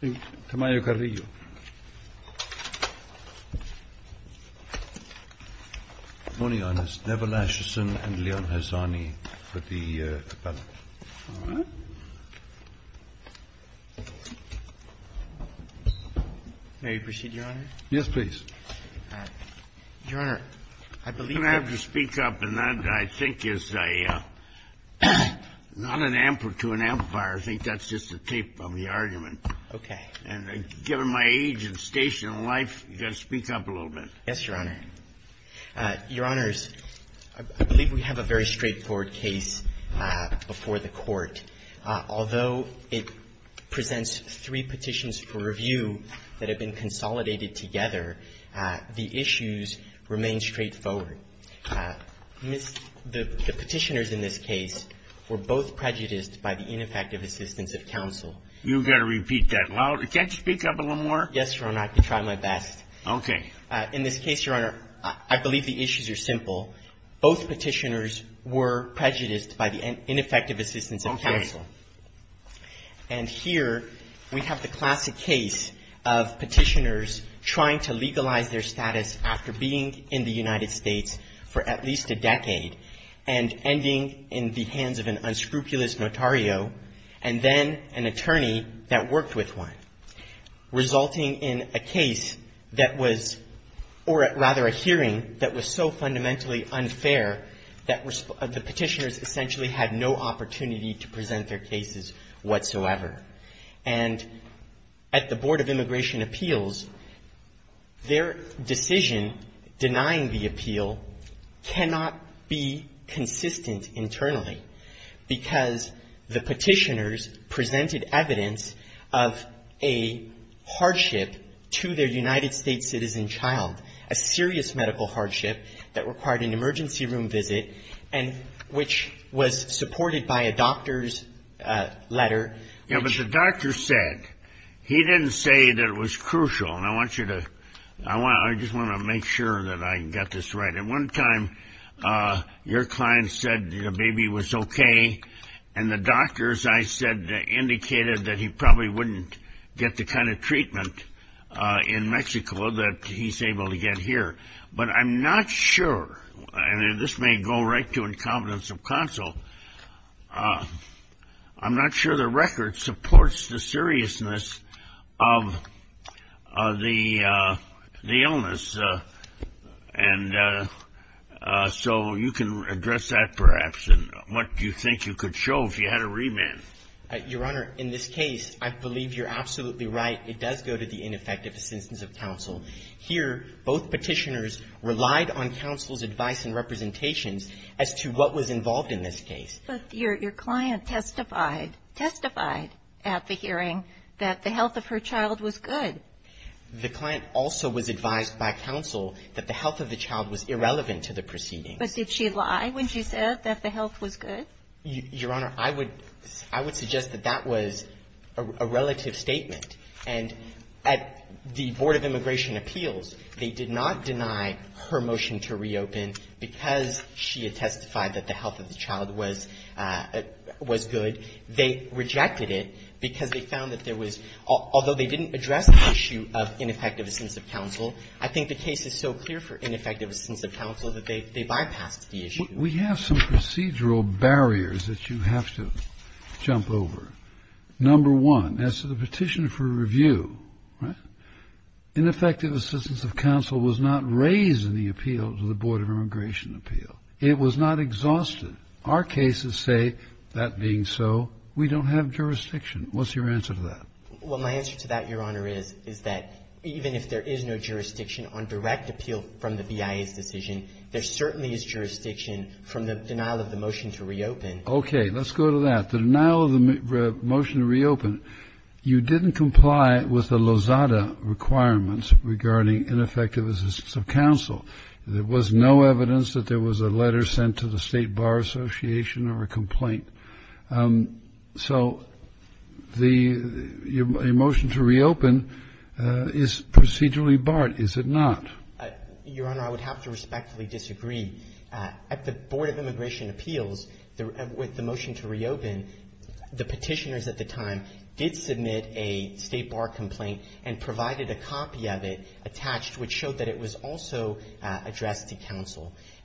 Good morning, Your Honor. Neville Ascheson and Leon Hassani with the Cabellum. May we proceed, Your Honor? Yes, please. Your Honor, I believe that I'm going to have to speak up, and that, I think, is not an amplitude, an amplifier. I think that's just the tape of the argument. Okay. And given my age and station in life, you've got to speak up a little bit. Yes, Your Honor. Your Honors, I believe we have a very straightforward case before the Court. Although it presents three petitions for review that have been consolidated together, the issues remain straightforward. The Petitioners in this case were both prejudiced by the ineffective assistance of counsel. You've got to repeat that loud. Can't you speak up a little more? Yes, Your Honor. I can try my best. Okay. In this case, Your Honor, I believe the issues are simple. Okay. And here we have the classic case of Petitioners trying to legalize their status after being in the United States for at least a decade, and ending in the hands of an unscrupulous notario, and then an attorney that worked with one, resulting in a case that was or rather a hearing that was so fundamentally unfair that the Petitioners essentially had no opportunity to present their cases whatsoever. And at the Board of Immigration Appeals, their decision denying the appeal cannot be consistent internally because the Petitioners presented evidence of a hardship to their United States citizen child, a serious medical hardship that required an emergency room visit, and which was supported by a doctor's letter. Yeah, but the doctor said, he didn't say that it was crucial, and I want you to, I just want to make sure that I got this right. At one time, your client said the baby was okay, and the doctor, as I said, indicated that he probably wouldn't get the kind of treatment in Mexico that he's able to get here. But I'm not sure, and this may go right to incompetence of counsel, I'm not sure the record supports the seriousness of the illness. And so you can address that perhaps, and what do you think you could show if you had a remand? Your Honor, in this case, I believe you're absolutely right. It does go to the ineffectiveness of counsel. Here, both Petitioners relied on counsel's advice and representations as to what was involved in this case. But your client testified, testified at the hearing that the health of her child was good. The client also was advised by counsel that the health of the child was irrelevant to the proceeding. But did she lie when she said that the health was good? Your Honor, I would suggest that that was a relative statement. And at the Board of Immigration Appeals, they did not deny her motion to reopen because she had testified that the health of the child was good. They rejected it because they found that there was, although they didn't address the issue of ineffectiveness of counsel, I think the case is so clear for ineffectiveness of counsel that they bypassed the issue. We have some procedural barriers that you have to jump over. Number one, as to the Petitioner for Review, right, ineffective assistance of counsel was not raised in the appeal to the Board of Immigration Appeal. It was not exhausted. Our cases say, that being so, we don't have jurisdiction. What's your answer to that? Well, my answer to that, Your Honor, is, is that even if there is no jurisdiction on direct appeal from the BIA's decision, there certainly is jurisdiction from the denial of the motion to reopen. Okay. Let's go to that. The denial of the motion to reopen, you didn't comply with the Lozada requirements regarding ineffectiveness of counsel. There was no evidence that there was a letter sent to the State Bar Association or a complaint. So the motion to reopen is procedurally barred, is it not? Your Honor, I would have to respectfully disagree. At the Board of Immigration Appeals, with the motion to reopen, the Petitioners at the time did submit a State Bar complaint and provided a copy of it attached,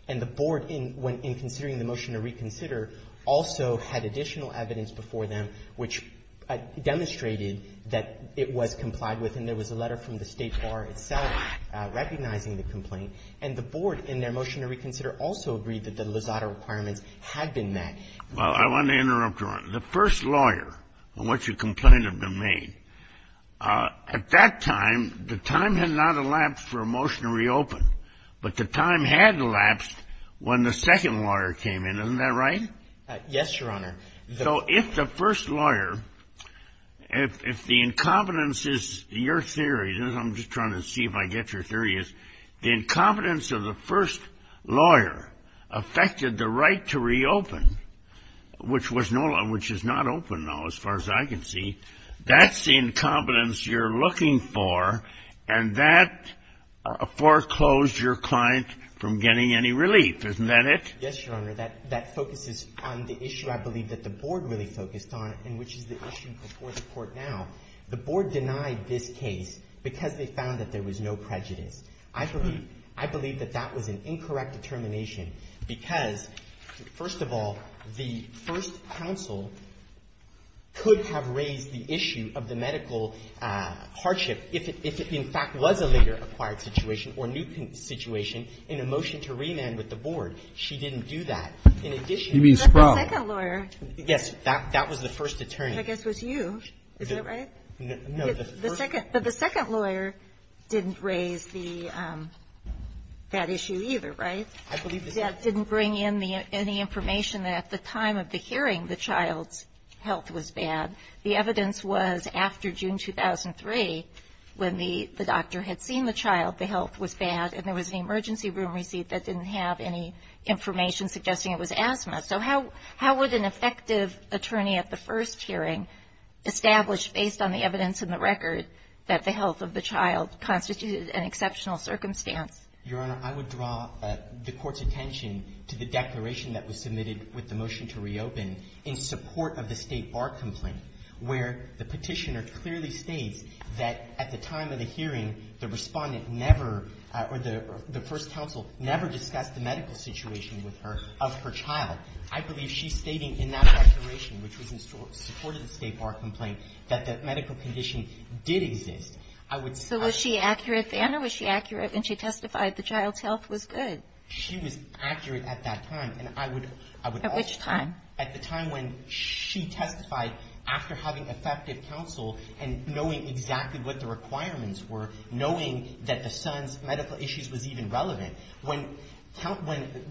And the Board, in considering the motion to reconsider, also had additional evidence before them which demonstrated that it was complied with, and there was a letter from the State Bar itself recognizing the complaint. And the Board, in their motion to reconsider, also agreed that the Lozada requirements had been met. Well, I want to interrupt, Your Honor. The first lawyer on which a complaint had been made, at that time, the time had not elapsed for a motion to reopen. But the time had elapsed when the second lawyer came in. Isn't that right? Yes, Your Honor. So if the first lawyer, if the incompetence is your theory, I'm just trying to see if I get your theory, is the incompetence of the first lawyer affected the right to reopen, which was no law, which is not open now, as far as I can see, that's the incompetence you're looking for, and that foreclosed your client from getting any relief. Isn't that it? Yes, Your Honor. That focuses on the issue, I believe, that the Board really focused on, and which is the issue before the Court now. The Board denied this case because they found that there was no prejudice. I believe that that was an incorrect determination because, first of all, the first counsel could have raised the issue of the medical hardship if it, in fact, was a later acquired situation or new situation in a motion to remand with the Board. She didn't do that. In addition to that, the second lawyer. You mean Sproul? Yes. That was the first attorney. I guess it was you. Is that right? No, the first. The second. But the second lawyer didn't raise the issue either, right? I believe the second. The second didn't bring in any information that at the time of the hearing the child's health was bad. The evidence was after June 2003 when the doctor had seen the child, the health was bad, and there was an emergency room receipt that didn't have any information suggesting it was asthma. So how would an effective attorney at the first hearing establish, based on the evidence and the record, that the health of the child constituted an exceptional circumstance? Your Honor, I would draw the Court's attention to the declaration that was submitted with the motion to reopen in support of the State Bar complaint, where the Petitioner clearly states that at the time of the hearing, the Respondent never, or the first counsel, never discussed the medical situation with her of her child. I believe she's stating in that declaration, which was in support of the State Bar complaint, I would suggest that. So was she accurate, Vanna? Was she accurate when she testified the child's health was good? She was accurate at that time. At which time? At the time when she testified after having effective counsel and knowing exactly what the requirements were, knowing that the son's medical issues was even relevant. When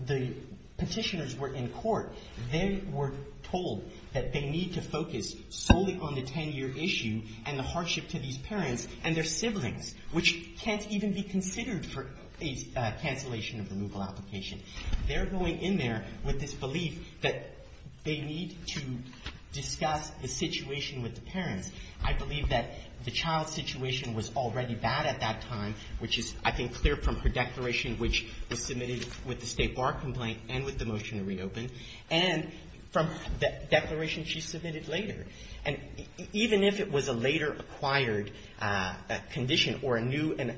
the Petitioners were in court, they were told that they need to focus solely on the hardship to these parents and their siblings, which can't even be considered for a cancellation of removal application. They're going in there with this belief that they need to discuss the situation with the parents. I believe that the child's situation was already bad at that time, which is, I think, clear from her declaration, which was submitted with the State Bar complaint and with the motion to reopen, and from the declaration she submitted later. And even if it was a later-acquired condition or a new and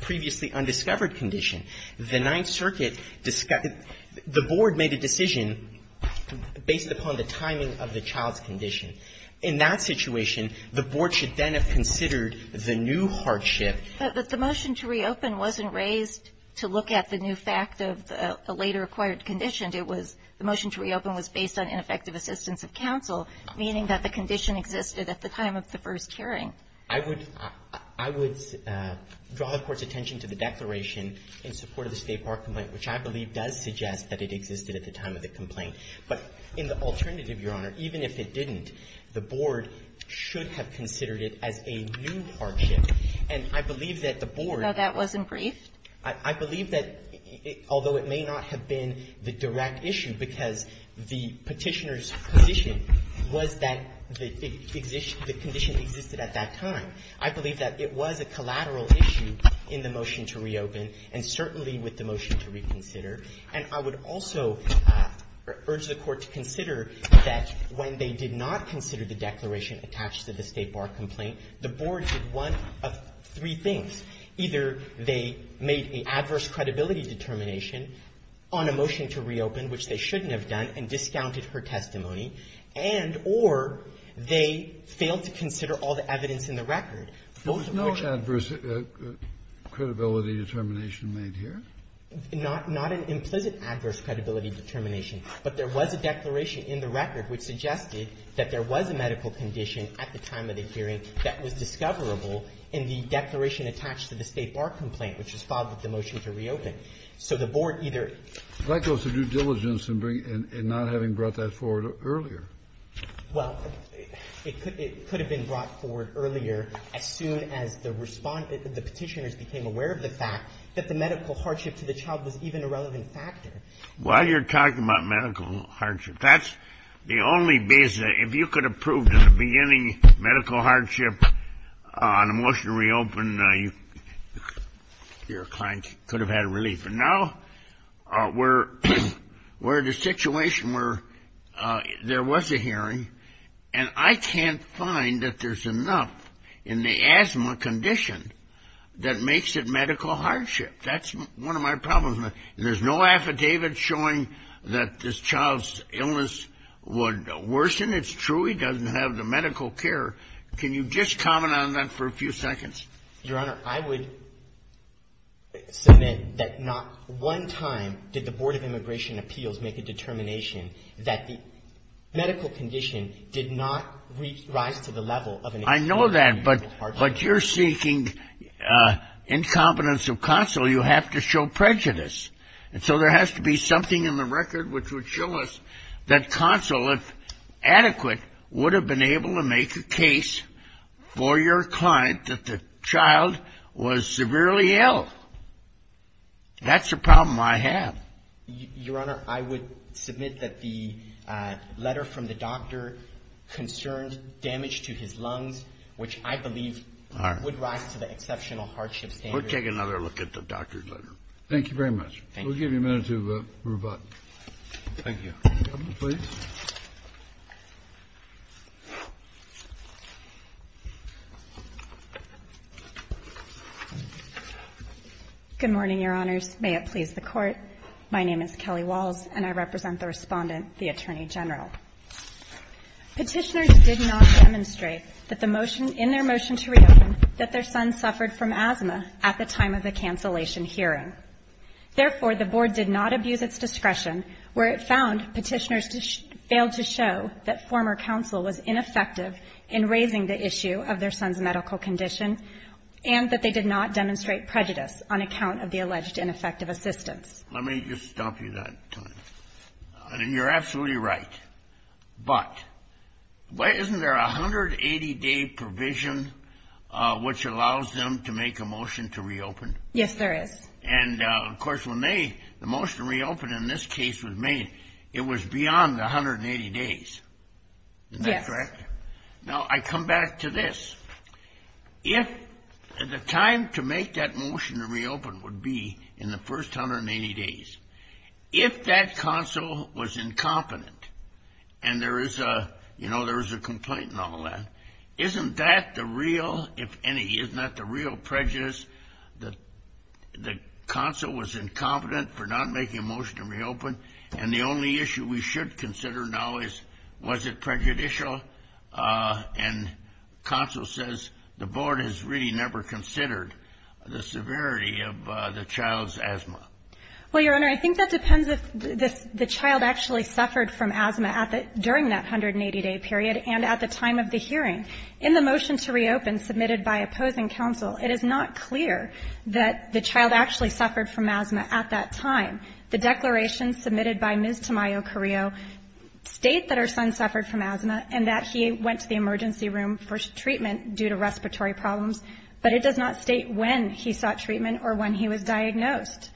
previously undiscovered condition, the Ninth Circuit discussed the board made a decision based upon the timing of the child's condition. In that situation, the board should then have considered the new hardship. But the motion to reopen wasn't raised to look at the new fact of a later-acquired condition. It was the motion to reopen was based on ineffective assistance of counsel, meaning that the condition existed at the time of the first hearing. I would draw the Court's attention to the declaration in support of the State Bar complaint, which I believe does suggest that it existed at the time of the complaint. But in the alternative, Your Honor, even if it didn't, the board should have considered it as a new hardship. And I believe that the board. No, that wasn't briefed. I believe that, although it may not have been the direct issue because the Petitioner's position was that the condition existed at that time, I believe that it was a collateral issue in the motion to reopen, and certainly with the motion to reconsider. And I would also urge the Court to consider that when they did not consider the declaration attached to the State Bar complaint, the board did one of three things. Either they made a adverse credibility determination on a motion to reopen, which they shouldn't have done, and discounted her testimony, and or they failed to consider all the evidence in the record. Both of which are the same. Kennedy, was there no adverse credibility determination made here? Not an implicit adverse credibility determination, but there was a declaration in the record which suggested that there was a medical condition at the time of the application attached to the State Bar complaint, which was filed with the motion to reopen. So the board either ---- That goes to due diligence and not having brought that forward earlier. Well, it could have been brought forward earlier as soon as the Petitioner's became aware of the fact that the medical hardship to the child was even a relevant factor. While you're talking about medical hardship, that's the only basis. If you could have proved in the beginning medical hardship on a motion to reopen, your client could have had relief. But now we're in a situation where there was a hearing, and I can't find that there's enough in the asthma condition that makes it medical hardship. That's one of my problems. There's no affidavit showing that this child's illness would worsen. It's true he doesn't have the medical care. Can you just comment on that for a few seconds? Your Honor, I would submit that not one time did the Board of Immigration Appeals make a determination that the medical condition did not rise to the level of a medical hardship. I know that, but you're seeking incompetence of counsel. You have to show prejudice. And so there has to be something in the record which would show us that counsel, if adequate, would have been able to make a case for your client that the child was severely ill. That's the problem I have. Your Honor, I would submit that the letter from the doctor concerned damage to his condition, which I believe would rise to the exceptional hardship standard. We'll take another look at the doctor's letter. Thank you very much. We'll give you a minute to move on. Thank you. Governor, please. Good morning, Your Honors. May it please the Court. My name is Kelly Walls, and I represent the Respondent, the Attorney General. Petitioners did not demonstrate that the motion, in their motion to reopen, that their son suffered from asthma at the time of the cancellation hearing. Therefore, the Board did not abuse its discretion where it found Petitioners failed to show that former counsel was ineffective in raising the issue of their son's medical condition, and that they did not demonstrate prejudice on account of the alleged ineffective assistance. Let me just stop you that time. And you're absolutely right. But isn't there a 180-day provision which allows them to make a motion to reopen? Yes, there is. And, of course, when the motion to reopen in this case was made, it was beyond the 180 days. Isn't that correct? Yes. Now, I come back to this. The time to make that motion to reopen would be in the first 180 days. If that counsel was incompetent, and there is a complaint and all that, isn't that the real, if any, isn't that the real prejudice that the counsel was incompetent for not making a motion to reopen? And the only issue we should consider now is, was it prejudicial? And counsel says the board has really never considered the severity of the child's asthma. Well, Your Honor, I think that depends if the child actually suffered from asthma during that 180-day period and at the time of the hearing. In the motion to reopen submitted by opposing counsel, it is not clear that the child actually suffered from asthma at that time. The declarations submitted by Ms. Tamayo-Carrillo state that her son suffered from asthma and that he went to the emergency room for treatment due to respiratory problems. But it does not state when he sought treatment or when he was diagnosed.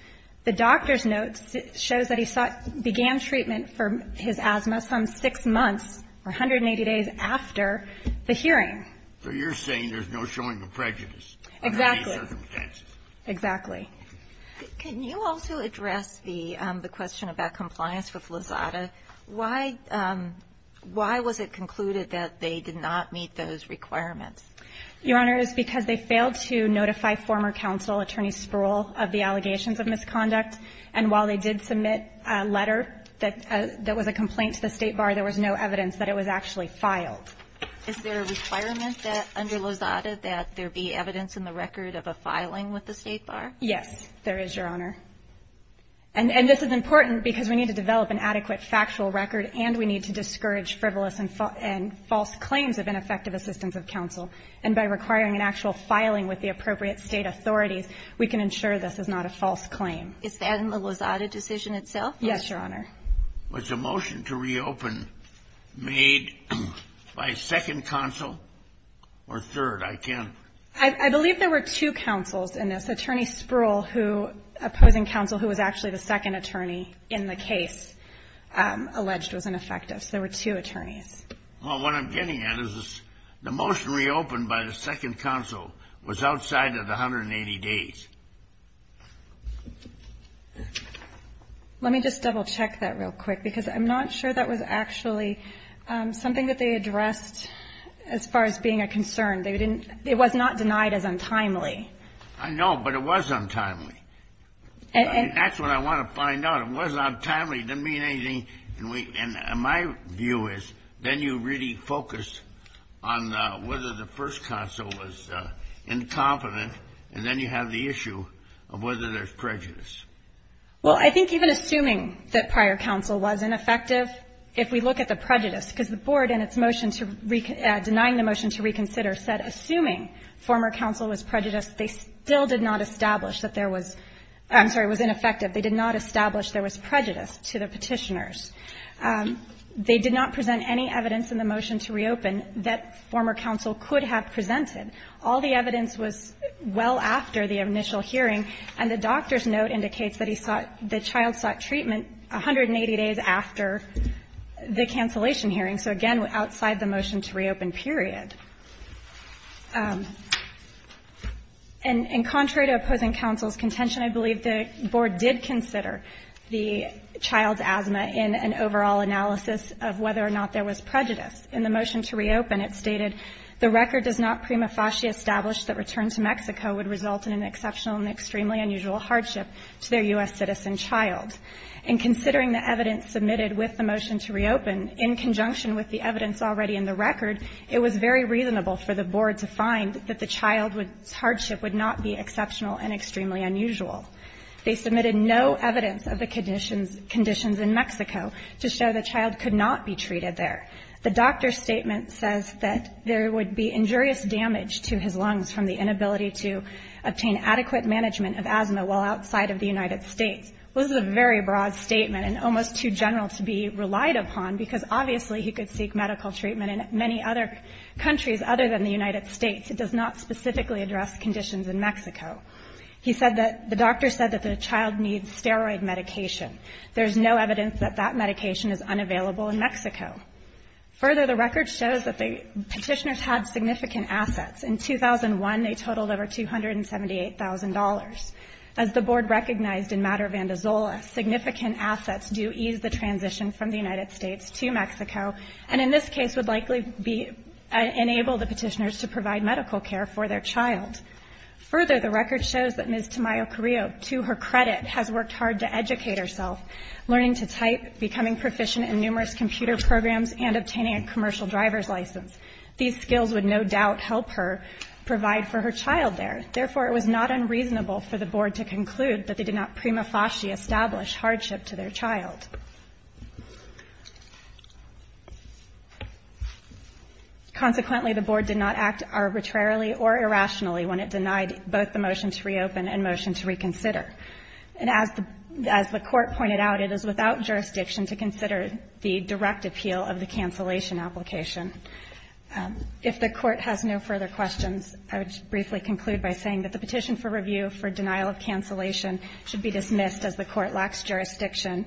The doctor's notes shows that he sought, began treatment for his asthma some six months or 180 days after the hearing. So you're saying there's no showing of prejudice? Exactly. Under any circumstances. Exactly. Can you also address the question about compliance with Lozada? Why was it concluded that they did not meet those requirements? Your Honor, it's because they failed to notify former counsel, Attorney Spruill, of the allegations of misconduct. And while they did submit a letter that was a complaint to the State Bar, there was no evidence that it was actually filed. Is there a requirement that under Lozada that there be evidence in the record of a filing with the State Bar? Yes, there is, Your Honor. And this is important because we need to develop an adequate factual record, and we need to discourage frivolous and false claims of ineffective assistance of counsel. And by requiring an actual filing with the appropriate state authorities, we can ensure this is not a false claim. Is that in the Lozada decision itself? Yes, Your Honor. Was the motion to reopen made by a second counsel or third? I can't. I believe there were two counsels in this. Attorney Spruill, who, opposing counsel who was actually the second attorney in the case, alleged was ineffective. So there were two attorneys. Well, what I'm getting at is the motion reopened by the second counsel was outside of the 180 days. Let me just double-check that real quick, because I'm not sure that was actually something that they addressed as far as being a concern. They didn't – it was not denied as untimely. I know, but it was untimely. And that's what I want to find out. It was untimely. It didn't mean anything. And my view is then you really focus on whether the first counsel was incompetent, and then you have the issue of whether there's prejudice. Well, I think even assuming that prior counsel was ineffective, if we look at the prejudice, because the Board in its motion to – denying the motion to reconsider said assuming former counsel was prejudiced, they still did not establish that there was – I'm sorry, was ineffective. They did not establish there was prejudice to the Petitioners. They did not present any evidence in the motion to reopen that former counsel could have presented. All the evidence was well after the initial hearing, and the doctor's note indicates that he sought – the child sought treatment 180 days after the cancellation hearing. So, again, outside the motion to reopen period. And contrary to opposing counsel's contention, I believe the Board did consider the child's asthma in an overall analysis of whether or not there was prejudice. In the motion to reopen, it stated the record does not prima facie establish that return to Mexico would result in an exceptional and extremely unusual hardship to their U.S. citizen child. And considering the evidence submitted with the motion to reopen, in conjunction with the evidence already in the record, it was very reasonable for the Board to find that the child's hardship would not be exceptional and extremely unusual. They submitted no evidence of the conditions in Mexico to show the child could not be treated there. The doctor's statement says that there would be injurious damage to his lungs from the inability to obtain adequate management of asthma while outside of the United States. Well, this is a very broad statement and almost too general to be relied upon, because obviously he could seek medical treatment in many other countries other than the United States. It does not specifically address conditions in Mexico. He said that the doctor said that the child needs steroid medication. There is no evidence that that medication is unavailable in Mexico. Further, the record shows that the petitioners had significant assets. In 2001, they totaled over $278,000. As the Board recognized in Matter of Vandizola, significant assets do ease the transition from the United States to Mexico, and in this case would likely enable the petitioners to provide medical care for their child. Further, the record shows that Ms. Tamayo Carrillo, to her credit, has worked hard to educate herself, learning to type, becoming proficient in numerous computer programs, and obtaining a commercial driver's license. These skills would no doubt help her provide for her child there. Therefore, it was not unreasonable for the Board to conclude that they did not prima consequently, the Board did not act arbitrarily or irrationally when it denied both the motion to reopen and motion to reconsider. And as the Court pointed out, it is without jurisdiction to consider the direct appeal of the cancellation application. If the Court has no further questions, I would briefly conclude by saying that the petition for review for denial of cancellation should be dismissed as the Court lacks jurisdiction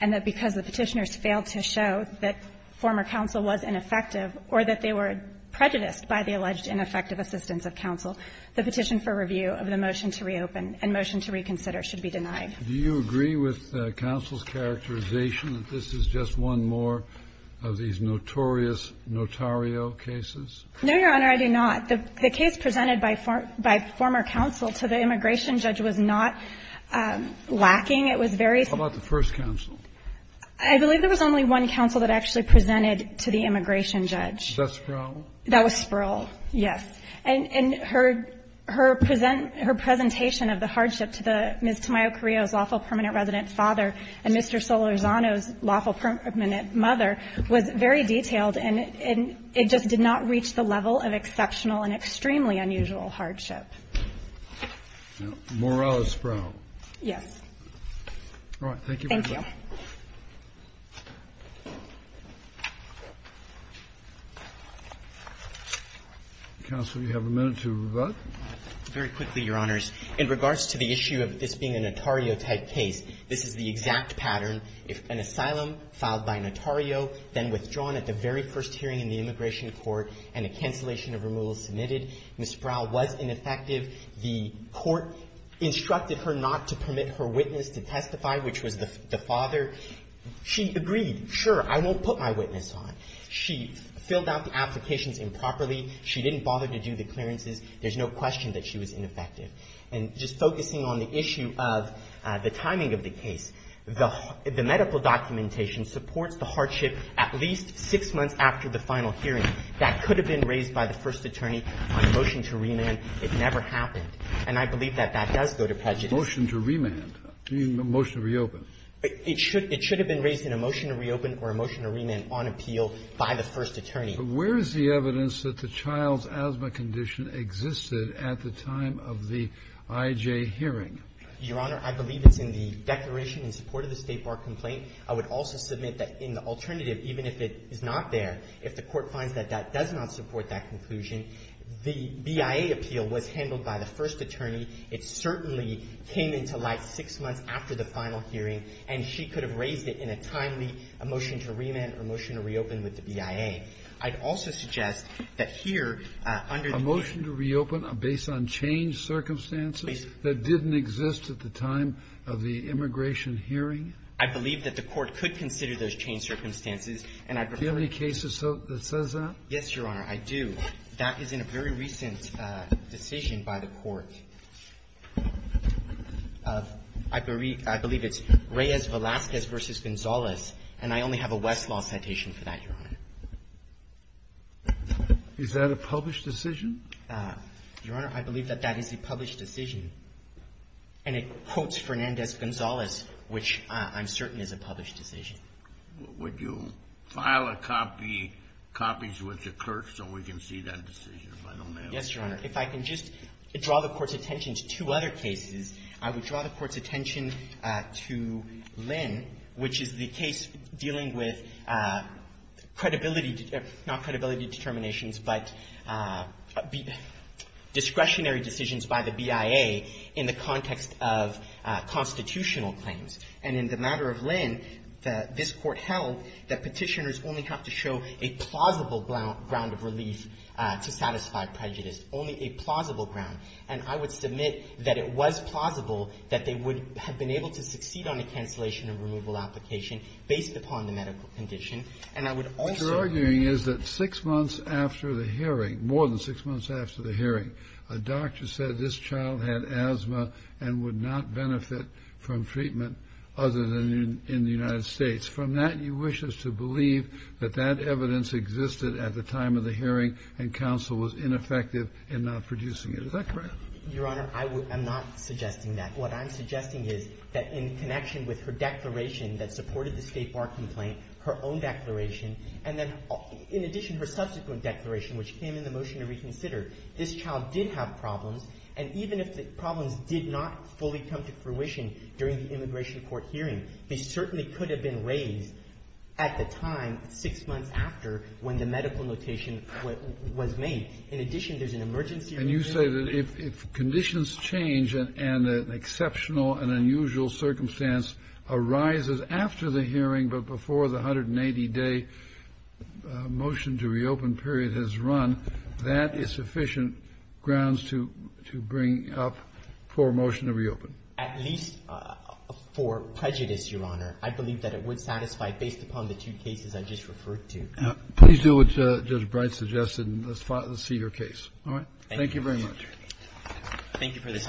and that because the petitioners failed to show that former counsel was ineffective or that they were prejudiced by the alleged ineffective assistance of counsel, the petition for review of the motion to reopen and motion to reconsider should be denied. Do you agree with counsel's characterization that this is just one more of these notorious notario cases? No, Your Honor, I do not. The case presented by former counsel to the immigration judge was not lacking. It was very ---- How about the first counsel? I believe there was only one counsel that actually presented to the immigration judge. Was that Sproul? That was Sproul, yes. And her presentation of the hardship to Ms. Tamayo-Carrillo's lawful permanent resident father and Mr. Solorzano's lawful permanent mother was very detailed, and it just did not reach the level of exceptional and extremely unusual hardship. Morrell is Sproul. Yes. All right. Thank you very much. Thank you. Counsel, you have a minute to vote. Very quickly, Your Honors. In regards to the issue of this being a notario-type case, this is the exact pattern. If an asylum filed by notario, then withdrawn at the very first hearing in the immigration court and a cancellation of removal submitted, Ms. Sproul was ineffective. The court instructed her not to permit her witness to testify, which was the father. She agreed, sure, I won't put my witness on. She filled out the applications improperly. She didn't bother to do the clearances. There's no question that she was ineffective. And just focusing on the issue of the timing of the case, the medical documentation supports the hardship at least six months after the final hearing. That could have been raised by the first attorney on a motion to remand. It never happened. And I believe that that does go to prejudice. A motion to remand? You mean a motion to reopen? It should have been raised in a motion to reopen or a motion to remand on appeal by the first attorney. But where is the evidence that the child's asthma condition existed at the time of the IJ hearing? Your Honor, I believe it's in the declaration in support of the State Bar complaint. I would also submit that in the alternative, even if it is not there, if the court finds that that does not support that conclusion, the BIA appeal was handled by the first attorney. It certainly came into light six months after the final hearing. And she could have raised it in a timely motion to remand or motion to reopen with the BIA. I'd also suggest that here, under the court ---- A motion to reopen based on changed circumstances that didn't exist at the time of the immigration hearing? I believe that the Court could consider those changed circumstances. Do you have any cases that says that? Yes, Your Honor. I do. That is in a very recent decision by the Court. I believe it's Reyes-Velasquez v. Gonzalez. And I only have a Westlaw citation for that, Your Honor. Is that a published decision? Your Honor, I believe that that is a published decision. And it quotes Fernandez-Gonzalez, which I'm certain is a published decision. Would you file a copy, copies with the clerk, so we can see that decision? Yes, Your Honor. If I can just draw the Court's attention to two other cases, I would draw the Court's attention to Lynn, which is the case dealing with credibility ---- not credibility determinations, but discretionary decisions by the BIA in the context of constitutional claims. And in the matter of Lynn, this Court held that Petitioners only have to show a plausible ground of relief to satisfy prejudice, only a plausible ground. And I would submit that it was plausible that they would have been able to succeed on a cancellation and removal application based upon the medical condition. And I would also ---- What you're arguing is that six months after the hearing, more than six months after the hearing, a doctor said this child had asthma and would not benefit from treatment other than in the United States. From that, you wish us to believe that that evidence existed at the time of the hearing and counsel was ineffective in not producing it. Is that correct? Your Honor, I would ---- I'm not suggesting that. What I'm suggesting is that in connection with her declaration that supported the State Bar complaint, her own declaration, and then in addition, her subsequent declaration, which came in the motion to reconsider, this child did have problems. And even if the problems did not fully come to fruition during the immigration court hearing, they certainly could have been raised at the time, six months after, when the medical notation was made. In addition, there's an emergency ---- And you say that if conditions change and an exceptional and unusual circumstance arises after the hearing but before the 180-day motion to reopen period has run, that is sufficient grounds to bring up for a motion to reopen. At least for prejudice, Your Honor. I believe that it would satisfy, based upon the two cases I just referred to. Please do what Judge Bright suggested and let's see your case. All right? Thank you very much. Thank you for this opportunity, Your Honor.